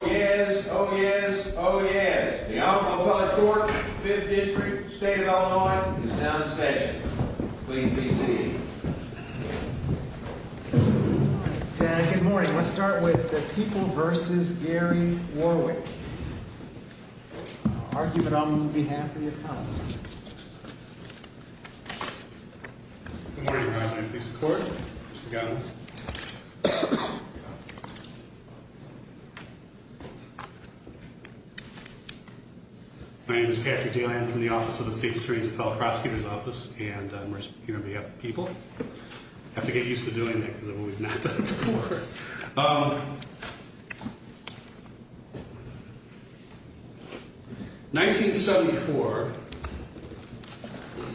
Oh, yes. Oh, yes. Oh, yes. The Alcala Court, 5th District, State of Illinois, is now in session. Please be seated. Good morning. Let's start with the People v. Gary Warwick. I'll mark you, but on behalf of the economy. Good morning, Your Honor. Please report. My name is Patrick Daly. I'm from the Office of the State's Attorney's Appellate Prosecutor's Office, and I'm here on behalf of the people. I have to get used to doing that because I've always not done it before. 1974,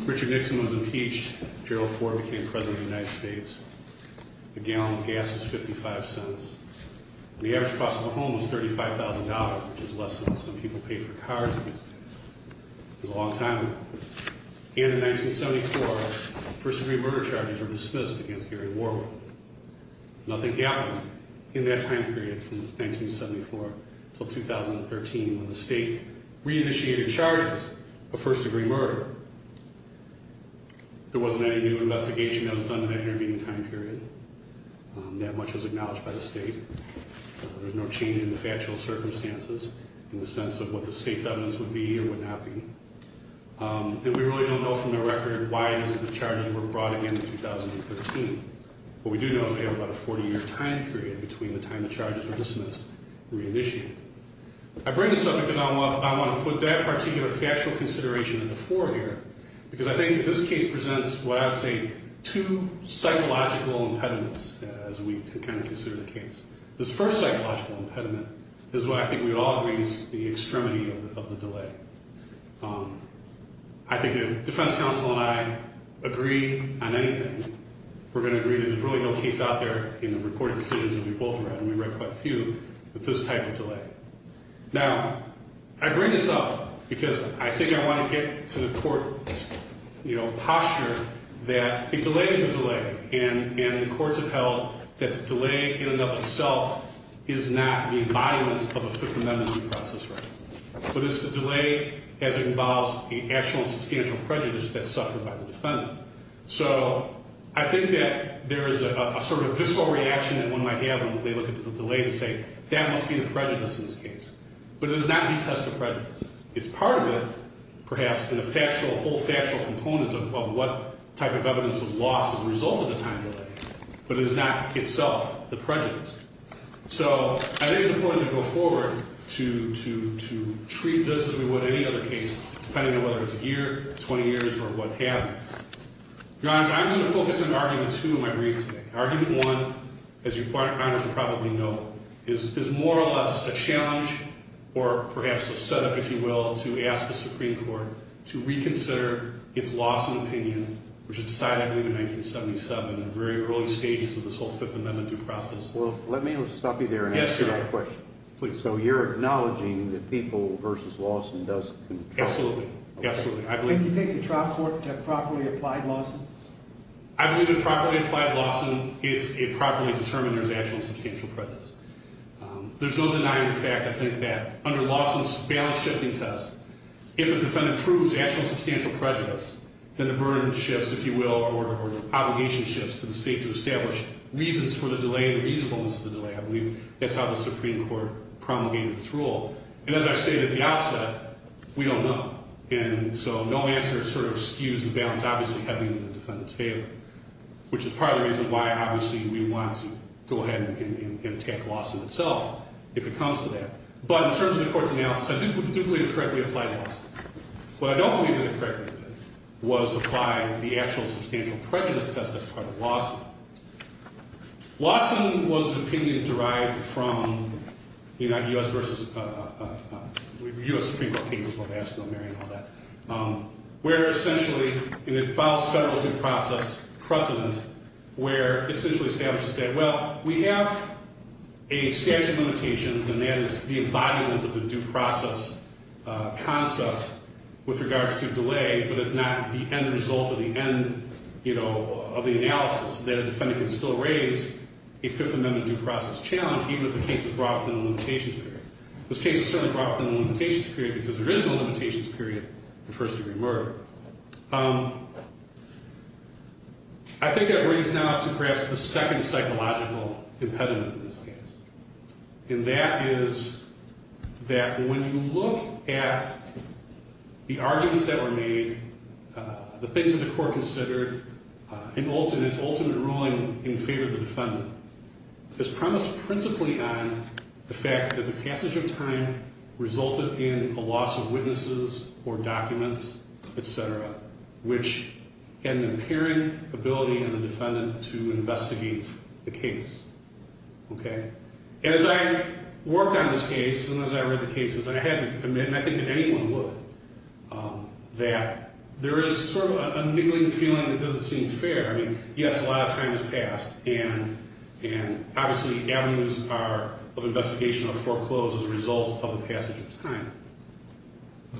Richard Nixon was impeached. Gerald Ford became President of the United States. A gallon of gas was 55 cents, and the average cost of a home was $35,000, which is less than what some people pay for cars these days. It was a long time ago. And in 1974, first-degree murder charges were dismissed against Gary Warwick. Nothing happened in that time period from 1974 until 2013, when the state re-initiated charges of first-degree murder. There wasn't any new investigation that was done in that intervening time period. That much was acknowledged by the state. There was no change in the factual circumstances in the sense of what the state's evidence would be or would not be. And we really don't know from the record why the charges were brought again in 2013. What we do know is we have about a 40-year time period between the time the charges were dismissed and re-initiated. I bring this up because I want to put that particular factual consideration at the fore here, because I think that this case presents what I would say two psychological impediments, as we kind of consider the case. This first psychological impediment is what I think we would all agree is the extremity of the delay. I think if defense counsel and I agree on anything, we're going to agree that there's really no case out there in the reported decisions that we both read, and we read quite a few, with this type of delay. Now, I bring this up because I think I want to get to the court's, you know, posture that a delay is a delay. And the courts have held that the delay in and of itself is not the embodiment of a Fifth Amendment due process. But it's the delay as it involves the actual and substantial prejudice that's suffered by the defendant. So I think that there is a sort of visceral reaction that one might have when they look at the delay to say, that must be the prejudice in this case. But it is not the test of prejudice. It's part of it, perhaps, and a whole factual component of what type of evidence was lost as a result of the time delay. But it is not itself the prejudice. So I think it's important to go forward to treat this as we would any other case, depending on whether it's a year, 20 years, or what have you. Your Honor, I'm going to focus on Argument 2 in my brief today. Argument 1, as Your Honor should probably know, is more or less a challenge, or perhaps a setup, if you will, to ask the Supreme Court to reconsider its Lawson opinion, which was decided, I believe, in 1977, in the very early stages of this whole Fifth Amendment due process. Well, let me stop you there and ask you that question. Yes, Your Honor. So you're acknowledging that People v. Lawson does control? Absolutely. Absolutely. Do you think the trial court properly applied Lawson? I believe it properly applied Lawson if it properly determined there's actual and substantial prejudice. There's no denying the fact, I think, that under Lawson's balance shifting test, if a defendant proves actual and substantial prejudice, then the burden shifts, if you will, or the obligation shifts to the state to establish reasons for the delay, I believe that's how the Supreme Court promulgated its rule. And as I stated at the outset, we don't know. And so no answer sort of skews the balance, obviously, having the defendant's favor, which is part of the reason why, obviously, we want to go ahead and attack Lawson itself if it comes to that. But in terms of the Court's analysis, I do believe it correctly applied Lawson. What I don't believe it correctly did was apply the actual and substantial prejudice test that's part of Lawson. Lawson was an opinion derived from the U.S. Supreme Court cases, where essentially it follows federal due process precedent, where it essentially establishes that, well, we have a statute of limitations, and that is the embodiment of the due process concept with regards to delay, but it's not the end result or the end, you know, of the analysis, that a defendant can still raise a Fifth Amendment due process challenge, even if the case is brought within the limitations period. This case is certainly brought within the limitations period, because there is no limitations period for first-degree murder. I think that brings now to perhaps the second psychological impediment in this case. And that is that when you look at the arguments that were made, the things that the Court considered in its ultimate ruling in favor of the defendant, it's premised principally on the fact that the passage of time resulted in a loss of witnesses or documents, etc., which had an impairing ability in the defendant to investigate the case. Okay? As I worked on this case, and as I read the cases, I had to admit, and I think that anyone would, that there is sort of a niggling feeling that doesn't seem fair. I mean, yes, a lot of time has passed, and obviously avenues of investigation are foreclosed as a result of the passage of time.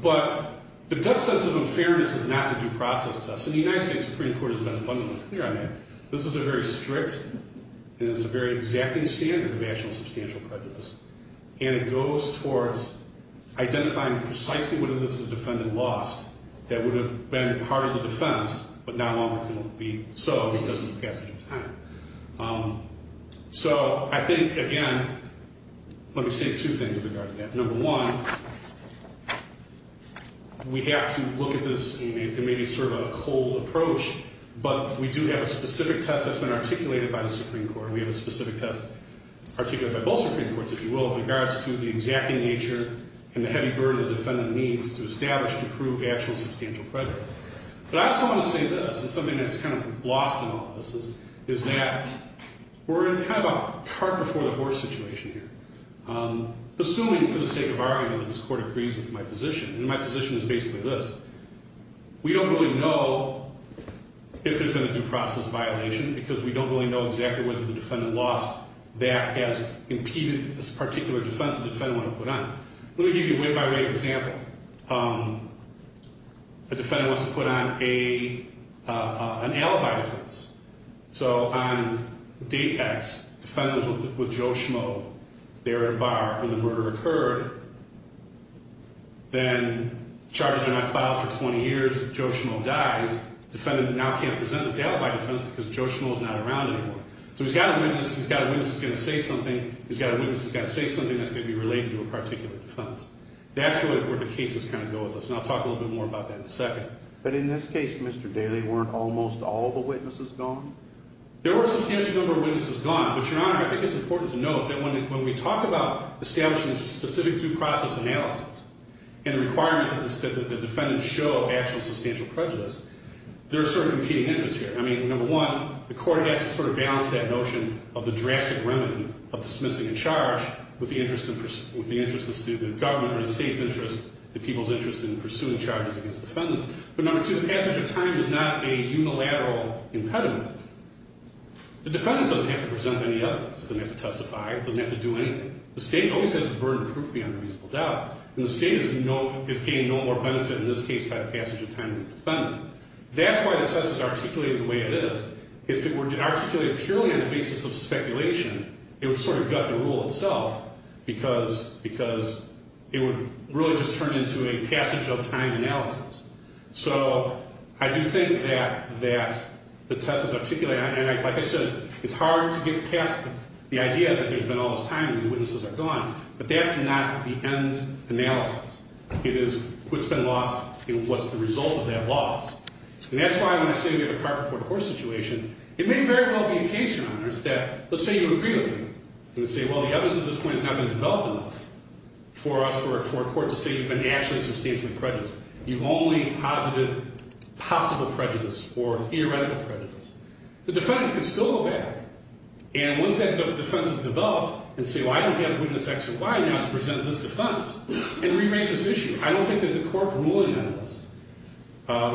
But the gut sense of unfairness is not the due process test, and the United States Supreme Court has been abundantly clear on that. This is a very strict, and it's a very exacting standard of actual substantial prejudice. And it goes towards identifying precisely whether this is a defendant lost that would have been part of the defense, but not only could it be so because of the passage of time. So I think, again, let me say two things with regard to that. Number one, we have to look at this in maybe sort of a cold approach, but we do have a specific test that's been articulated by the Supreme Court. We have a specific test articulated by both Supreme Courts, if you will, in regards to the exacting nature and the heavy burden the defendant needs to establish to prove actual substantial prejudice. But I just want to say this, and something that's kind of lost in all this, is that we're in kind of a cart before the horse situation here. Assuming, for the sake of argument, that this Court agrees with my position, and my position is basically this, we don't really know if there's been a due process violation because we don't really know exactly whether the defendant lost that as impeded as a particular defense the defendant wanted to put on. Let me give you a way-by-way example. A defendant wants to put on an alibi defense. So on DAPACs, defendants with Joe Schmo there at a bar when the murder occurred, then charges are not filed for 20 years, Joe Schmo dies, defendant now can't present his alibi defense because Joe Schmo is not around anymore. So he's got a witness, he's got a witness who's going to say something, he's got a witness who's got to say something that's going to be related to a particular defense. That's really where the cases kind of go with this, and I'll talk a little bit more about that in a second. But in this case, Mr. Daley, weren't almost all the witnesses gone? There were a substantial number of witnesses gone, but, Your Honor, I think it's important to note that when we talk about establishing a specific due process analysis and the requirement that the defendant show actual substantial prejudice, there are sort of competing interests here. I mean, number one, the court has to sort of balance that notion of the drastic remedy of dismissing a charge with the interest of the government or the state's interest, the people's interest in pursuing charges against defendants. But number two, the passage of time is not a unilateral impediment. The defendant doesn't have to present any evidence, doesn't have to testify, doesn't have to do anything. The case has burned proof beyond a reasonable doubt, and the state is getting no more benefit in this case by the passage of time of the defendant. That's why the test is articulated the way it is. If it were articulated purely on the basis of speculation, it would sort of gut the rule itself, because it would really just turn into a passage of time analysis. So I do think that the test is articulated, and like I said, it's hard to get past the idea that there's been all this time and these witnesses are gone. But that's not the end analysis. It is what's been lost and what's the result of that loss. And that's why when I say we have a carpet for the horse situation, it may very well be the case, Your Honors, that let's say you agree with me and say, well, the evidence at this point has not been developed enough for a court to say you've been actually substantially prejudiced. You've only posited possible prejudice or theoretical prejudice. The defendant could still go back, and once that defense is developed and say, well, I don't have a witness X or Y now to present this defense and re-raise this issue. I don't think that the court ruling on this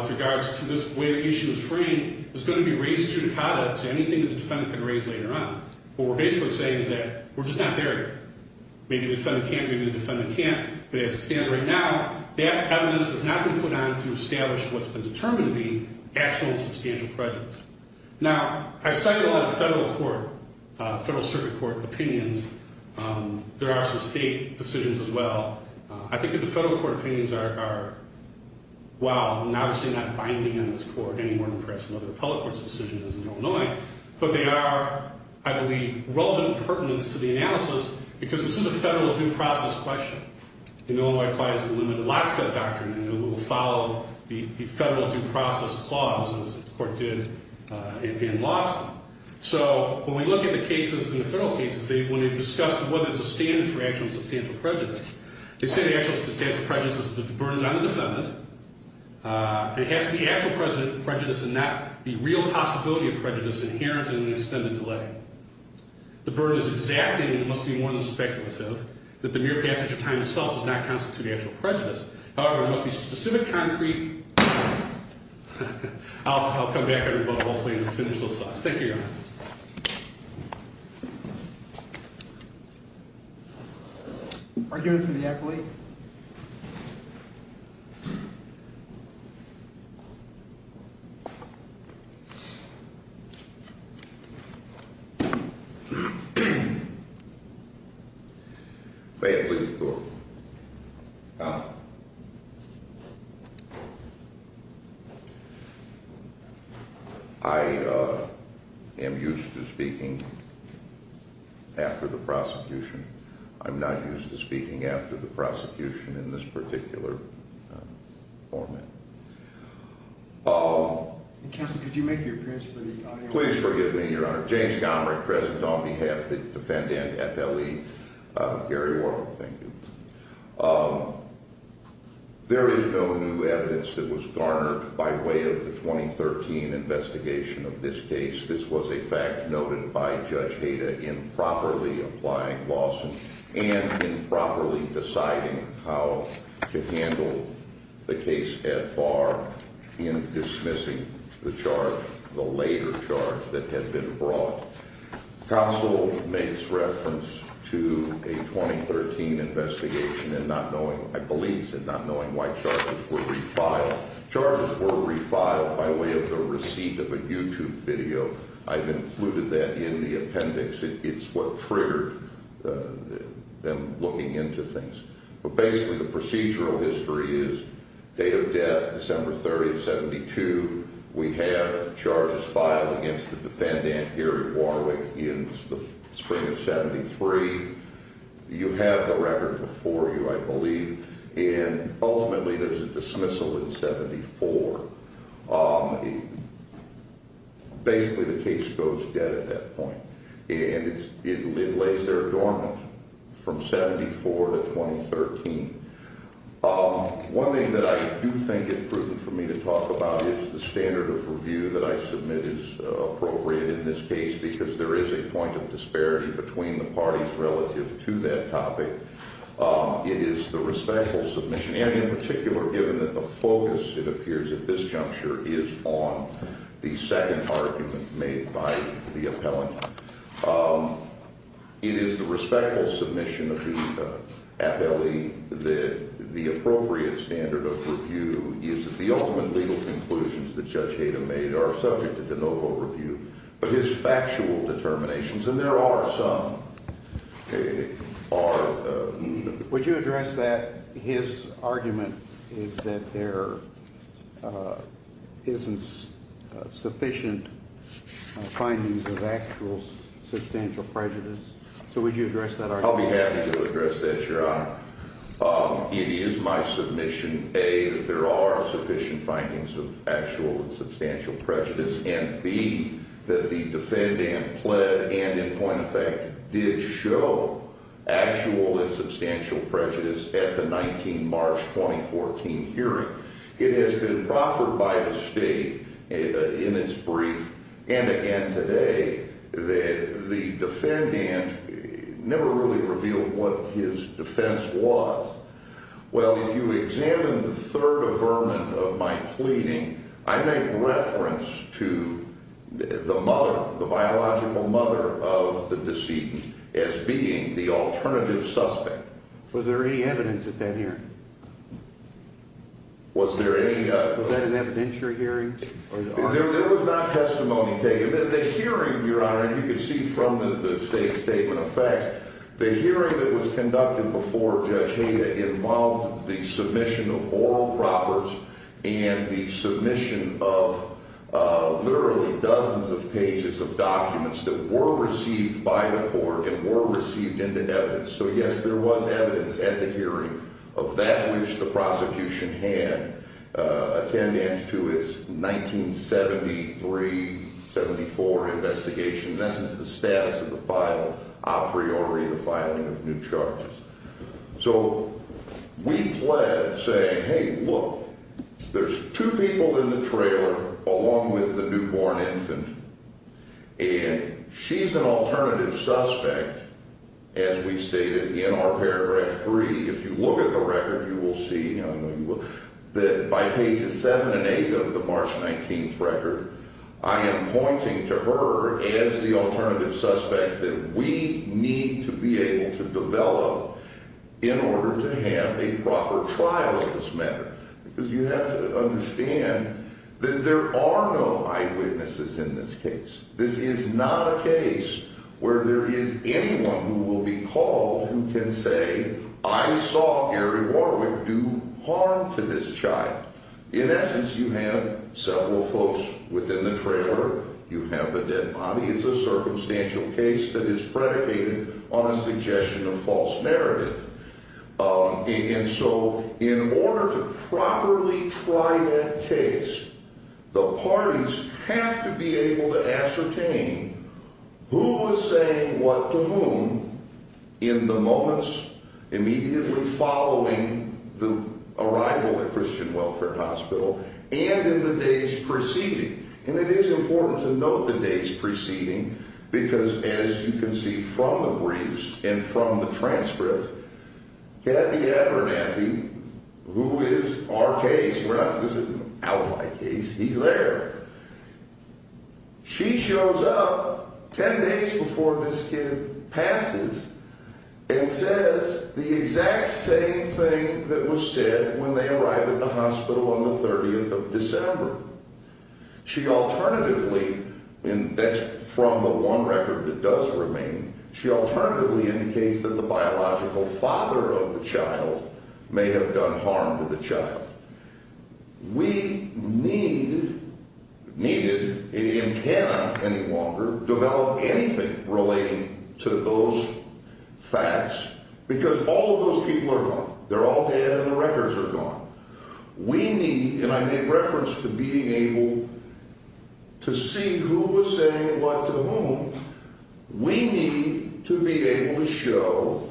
with regards to this way the issue is framed is going to be raised judicata to anything that the defendant can raise later on. What we're basically saying is that we're just not there yet. Maybe the defendant can't, maybe the defendant can't. But as it stands right now, that evidence has not been put on to establish what's been determined to be actual substantial prejudice. Now, I've cited a lot of federal court, federal circuit court opinions and there are some state decisions as well. I think that the federal court opinions are, well, obviously not binding on this court any more than perhaps another appellate court's decisions in Illinois, but they are, I believe, relevant pertinence to the analysis because this is a federal due process question. Illinois applies the limited last step doctrine and it will follow the federal due process clause as the court did in Lawson. So when we look at the cases in the federal cases, when they've discussed what is the standard for actual substantial prejudice, they say the actual substantial prejudice is that the burden's on the defendant. It has to be actual prejudice and not the real possibility of prejudice inherent in an extended delay. The burden is exacting and it must be more than speculative that the mere passage of time itself does not constitute actual prejudice. However, it must be specific, concrete. I'll come back at the end and finish those thoughts. Thank you, Your Honor. Are you here for the appellate? May I please talk? After the prosecution. I'm not used to speaking after the prosecution in this particular format. Counsel, could you make your appearance for the audience? Please forgive me, Your Honor. James Gomrick present on behalf of the defendant, FLE, Gary Warhol. Thank you. There is no new evidence that was garnered by way of the 2013 investigation of this case. This was a fact noted by Judge Hayda in properly applying lawsuit and in properly deciding how to handle the case at bar in dismissing the charge, the later charge that had been brought. Counsel makes reference to a 2013 investigation and not knowing, I believe he said, not knowing why charges were refiled. Charges were refiled by way of the receipt of a YouTube video. I've included that in the appendix. It's what triggered them looking into things. But basically, the procedural history is date of death, December 30, 72. We have charges filed against the defendant, Gary Warhol, in the spring of 73. You have the record before you, I believe. And ultimately, there's a dismissal in 74. Basically, the case goes dead at that point. And it lays there dormant from 74 to 2013. One thing that I do think is prudent for me to talk about is the standard of review that I submit is appropriate in this case because there is a point of disparity between the parties relative to that topic. It is the respectful submission, and in particular, given that the focus, it appears, at this juncture is on the second argument made by the appellant. It is the respectful submission of the appellee that the appropriate standard of review is that the ultimate legal conclusions that Judge Hayden made are subject to de novo review. But his factual determinations, and there are some, are... Would you address that his argument is that there isn't sufficient findings of actual substantial prejudice? So would you address that argument? I'll be happy to address that, Your Honor. It is my submission, A, that there are sufficient findings of actual and substantial prejudice, and B, that the defendant pled and, in point of fact, did show actual and substantial prejudice at the 19 March 2014 hearing. It has been proffered by the state in its brief, and again today, that the defendant never really revealed what his defense was. Well, if you examine the third averment of my pleading, I make reference to the mother, the biological mother of the decedent as being the alternative suspect. Was there any evidence at that hearing? Was there any... There was not testimony taken. The hearing, Your Honor, and you can see from the state's statement of facts, the hearing that was conducted before Judge Hayda involved the submission of oral proffers and the submission of literally dozens of pages of documents that were received by the court and were received into evidence. So, yes, there was evidence at the hearing in the 1973-74 investigation. That's the status of the file, a priori the filing of new charges. So, we pled saying, hey, look, there's two people in the trailer along with the newborn infant, and she's an alternative suspect, as we stated in our paragraph three. If you look at the record, you will see, in the defendant's record, I am pointing to her as the alternative suspect that we need to be able to develop in order to have a proper trial of this matter because you have to understand that there are no eyewitnesses in this case. This is not a case where there is anyone who will be called who can say, I saw Gary Warwick close within the trailer. You have the dead body. It's a circumstantial case that is predicated on a suggestion of false narrative. And so, in order to properly try that case, the parties have to be able to ascertain who was saying what to whom in the moments immediately following the arrival of Gary Warwick in the California Christian Welfare Hospital and in the days preceding. And it is important to note the days preceding because, as you can see from the briefs and from the transcript, Kathy Abernathy, who is our case, this isn't an alibi case, he's there, she shows up 10 days before this kid arrived at the hospital on the 30th of December. She alternatively, and that's from the one record that does remain, she alternatively indicates that the biological father of the child may have done harm to the child. We need, needed, and cannot any longer develop anything relating to those facts because all of those people are dead. We need, and I make reference to being able to see who was saying what to whom, we need to be able to show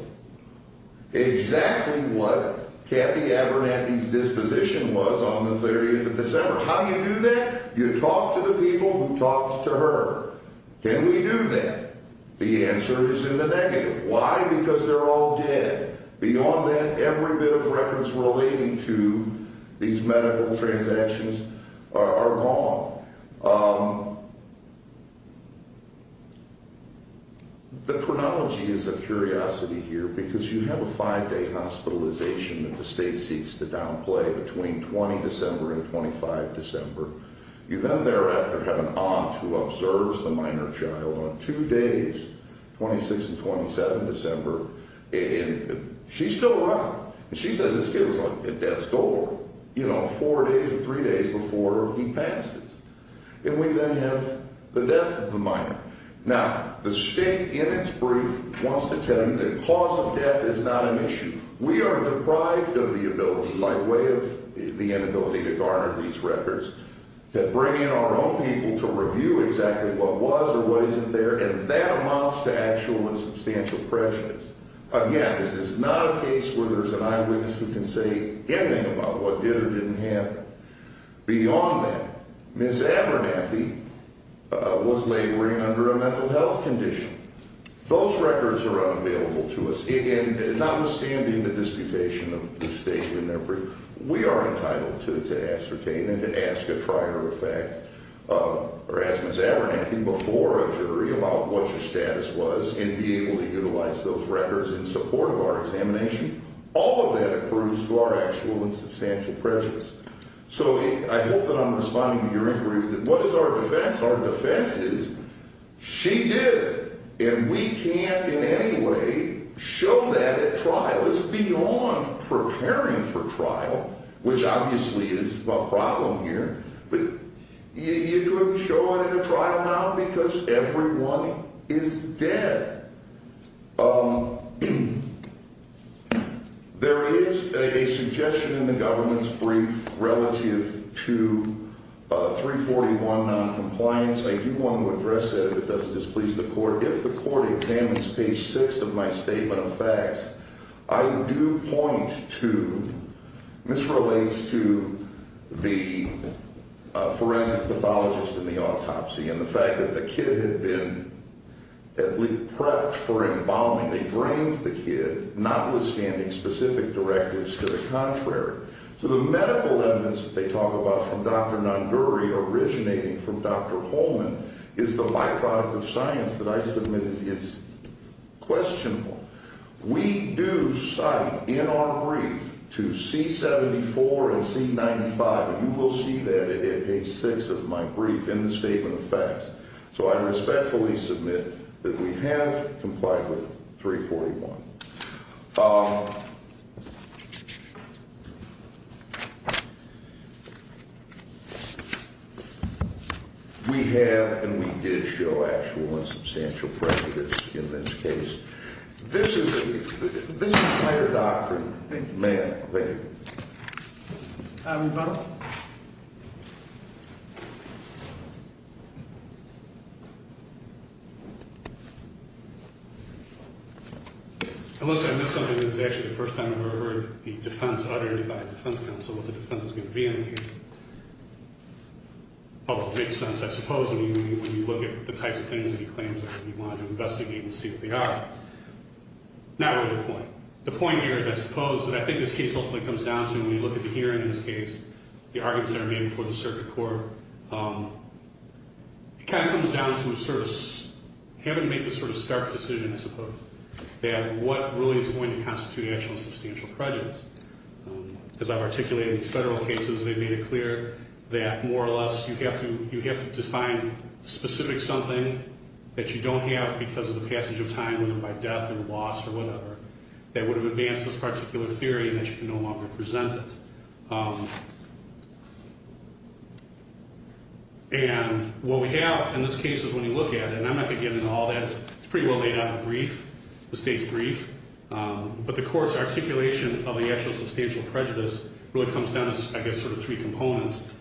exactly what Kathy Abernathy's disposition was on the 30th of December. How do you do that? You talk to the people who talked to her. Can we do that? These medical transactions are gone. The chronology is a curiosity here because you have a five-day hospitalization that the state seeks to downplay between 20 December and 25 December. You then thereafter have an aunt who observes the minor child on two days, 26 and 27 December, and she's still around. She says this kid was at death's door four days or three days before he passes, and we then have the death of the minor. Now, the state in its brief wants to tell you the cause of death is not an issue. We are deprived of the ability by way of the inability to garner these records to bring in our own people to review exactly what was or wasn't there, and that amounts to actual and substantial prejudice. Again, this is not a case where there's an eyewitness who can say anything about what did or didn't happen. Beyond that, Ms. Abernathy was laboring under a mental health condition. Those records are unavailable to us. Again, notwithstanding the disputation of the state in their brief, we are entitled to ascertain and to ask a prior effect or ask Ms. Abernathy before a jury about what your status was and be able to utilize those records in support of our examination. All of that accrues to our actual and substantial prejudice. So I hope that I'm responding to your inquiry that what is our defense? Our defense is she did, and we can't in any way show that at trial. It's beyond preparing for trial, which obviously is a problem here. But you couldn't show it at a trial now because everyone is dead. There is a suggestion in the government's brief relative to 341 noncompliance. I do want to address that if it doesn't displease the court. of my statement of facts, I do point to Ms. Abernathy and this relates to the forensic pathologist in the autopsy and the fact that the kid had been at least prepped for embalming. They drained the kid, notwithstanding specific directives to the contrary. So the medical evidence that they talk about from Dr. Nanduri originating from Dr. Holman is the byproduct of science that I submit is questionable. We do cite in our brief to C-74 and C-95 and you will see that at page six of my brief in the statement of facts. So I respectfully submit that we have complied with 341. We have and we did show actual and substantial prejudice in this case and this is the entire doctrine. Thank you, ma'am. Thank you. Mr. Butler. Alyssa, I missed something. This is actually the first time I've ever heard the defense uttered by a defense counsel what the defense is going to be in the case. Although it makes sense, I suppose, when you look at the types of things that he claims and you want to investigate and see what they are. Not really the point. The point here is, I suppose, that I think this case ultimately comes down to when you look at the hearing in this case, the arguments that are made before the circuit court, it kind of comes down to a sort of, having to make this sort of stark decision, I suppose, that what really is going to constitute actual and substantial prejudice. As I've articulated in these federal cases, they've made it clear that more or less you have to define specific something that you don't have because of the passage of time, whether by death or loss or whatever, that would have advanced this particular theory and that you can no longer present it. And what we have in this case is when you look at it, and I'm not going to get into all that. It's pretty well laid out in the brief, the state's brief. But the court's articulation of the actual substantial prejudice really comes down to, I guess, sort of three components.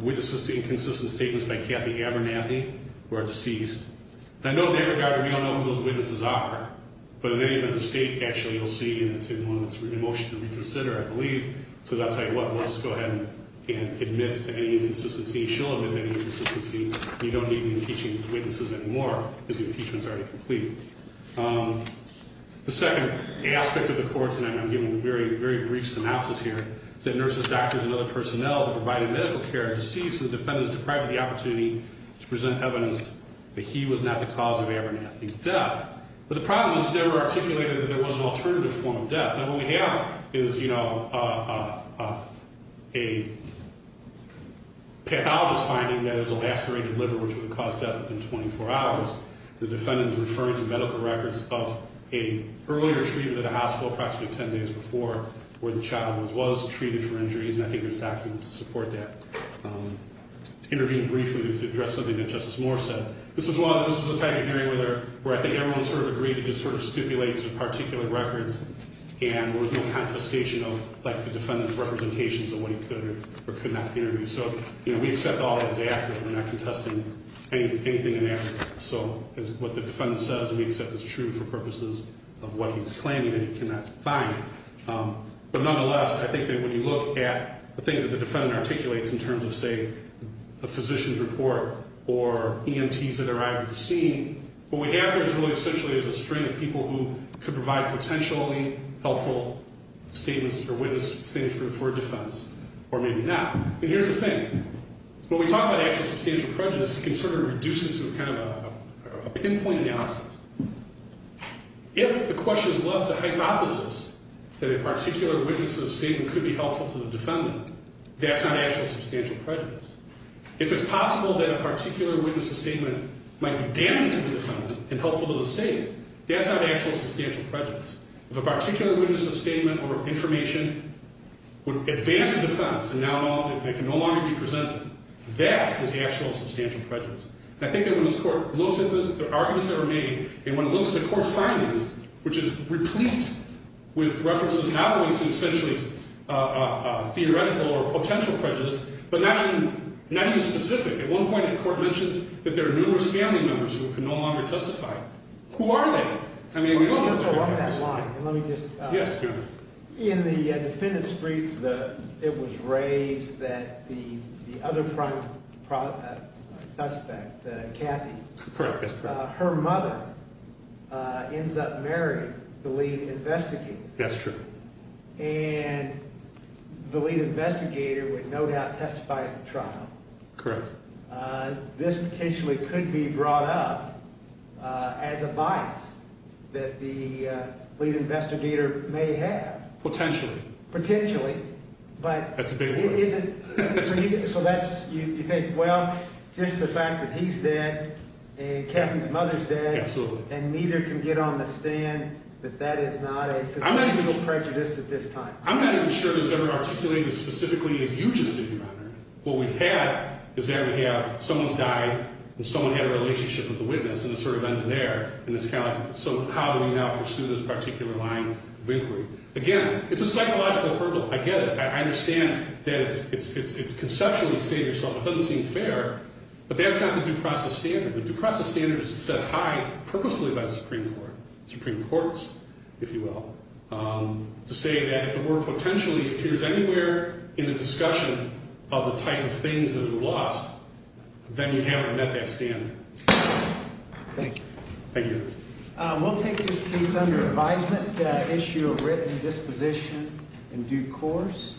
Witnesses to inconsistent statements by Kathy Abernathy who are deceased. And I know in that regard, we don't know who those witnesses are. But in any event, the state actually will see and it's in one of its emotional reconsider, I believe. So I'll tell you what, we'll just go ahead and admit to any inconsistency. She'll admit to any inconsistency. You don't need any impeachment witnesses anymore because the impeachment is already complete. The second aspect of the courts, and I'm giving very brief synopsis here, is that nurses, doctors and other personnel that provided medical care are deceased so the defendant is deprived of the opportunity to present evidence that he was not the cause of Abernathy's death. But the problem is it's never articulated that there was an alternative form of death. Now what we have is, you know, a pathologist finding that it was a lacerated liver which would have caused death within 24 hours. The defendant is referring to medical records of an earlier treatment at a hospital approximately 10 days before where the child was treated for injuries and I think there's documents to support that. To intervene briefly to address something that Justice Moore said, this was a type of hearing where I think everyone sort of agreed to sort of stipulate particular records and there was no contestation of the defendant's representations of what he could or could not interview. So we accept all that as accurate. We're not contesting anything in that. So what the defendant says we accept as true for purposes of what he's claiming that he cannot find. But nonetheless, I think that when you look at the things that the defendant articulates in terms of say a physician's report or EMTs that arrive at the scene, what we have here is really essentially is a string of people who could provide potentially helpful statements or witness statements for defense or maybe not. And here's the thing. actual substantial prejudice it can sort of reduce it to kind of a pinpoint analysis. If the question is left to hypothesis that a particular witness has stated that he or she has not seen and could be helpful to the defendant, that's not actual substantial prejudice. If it's possible that a particular witness's statement might be damaging to the defendant and helpful to the state, that's not actual substantial prejudice. If a particular witness has a statement or information would advance the defense and can no longer be presented, that is actual substantial prejudice. And I think that when this court looks at the arguments that were made and when it looks at the court findings, which is replete with references not only to essentially theoretical or potential prejudice but not even specific. At one point the court mentions that there are numerous family members who can no longer testify. Who are they? I mean, we don't get to that. In the defendant's brief, it was raised that the other front suspect, Kathy, her mother ends up marrying the lead investigator. That's true. And the lead investigator would no doubt testify at the trial. Correct. This potentially could be brought up as a bias that the lead investigator may have. Potentially. Potentially. That's a big one. So that's, you think, just the fact that he's dead and Kathy's mother's dead and neither can get on the stand that that is not a substantial prejudice. I'm not saying that that's a substantial prejudice at this time. I'm not even sure that it's ever articulated as specifically as you just did, Your Honor. What we've had is there we have someone's died and someone had a relationship with the witness and it sort of ended there and it's kind of like, so how do we now pursue this particular line of inquiry? Again, it's a psychological hurdle. I get it. I understand that it's conceptually, say to yourself, it doesn't seem fair, but that's not the due process standard. The due process standard is set high purposely by the Supreme Court, Supreme Courts if you will, to say that if the word potentially appears anywhere in the discussion of the type of things that have been lost, then you haven't met that standard. Thank you. We'll take this piece under advisement. Issue of written disposition in due course.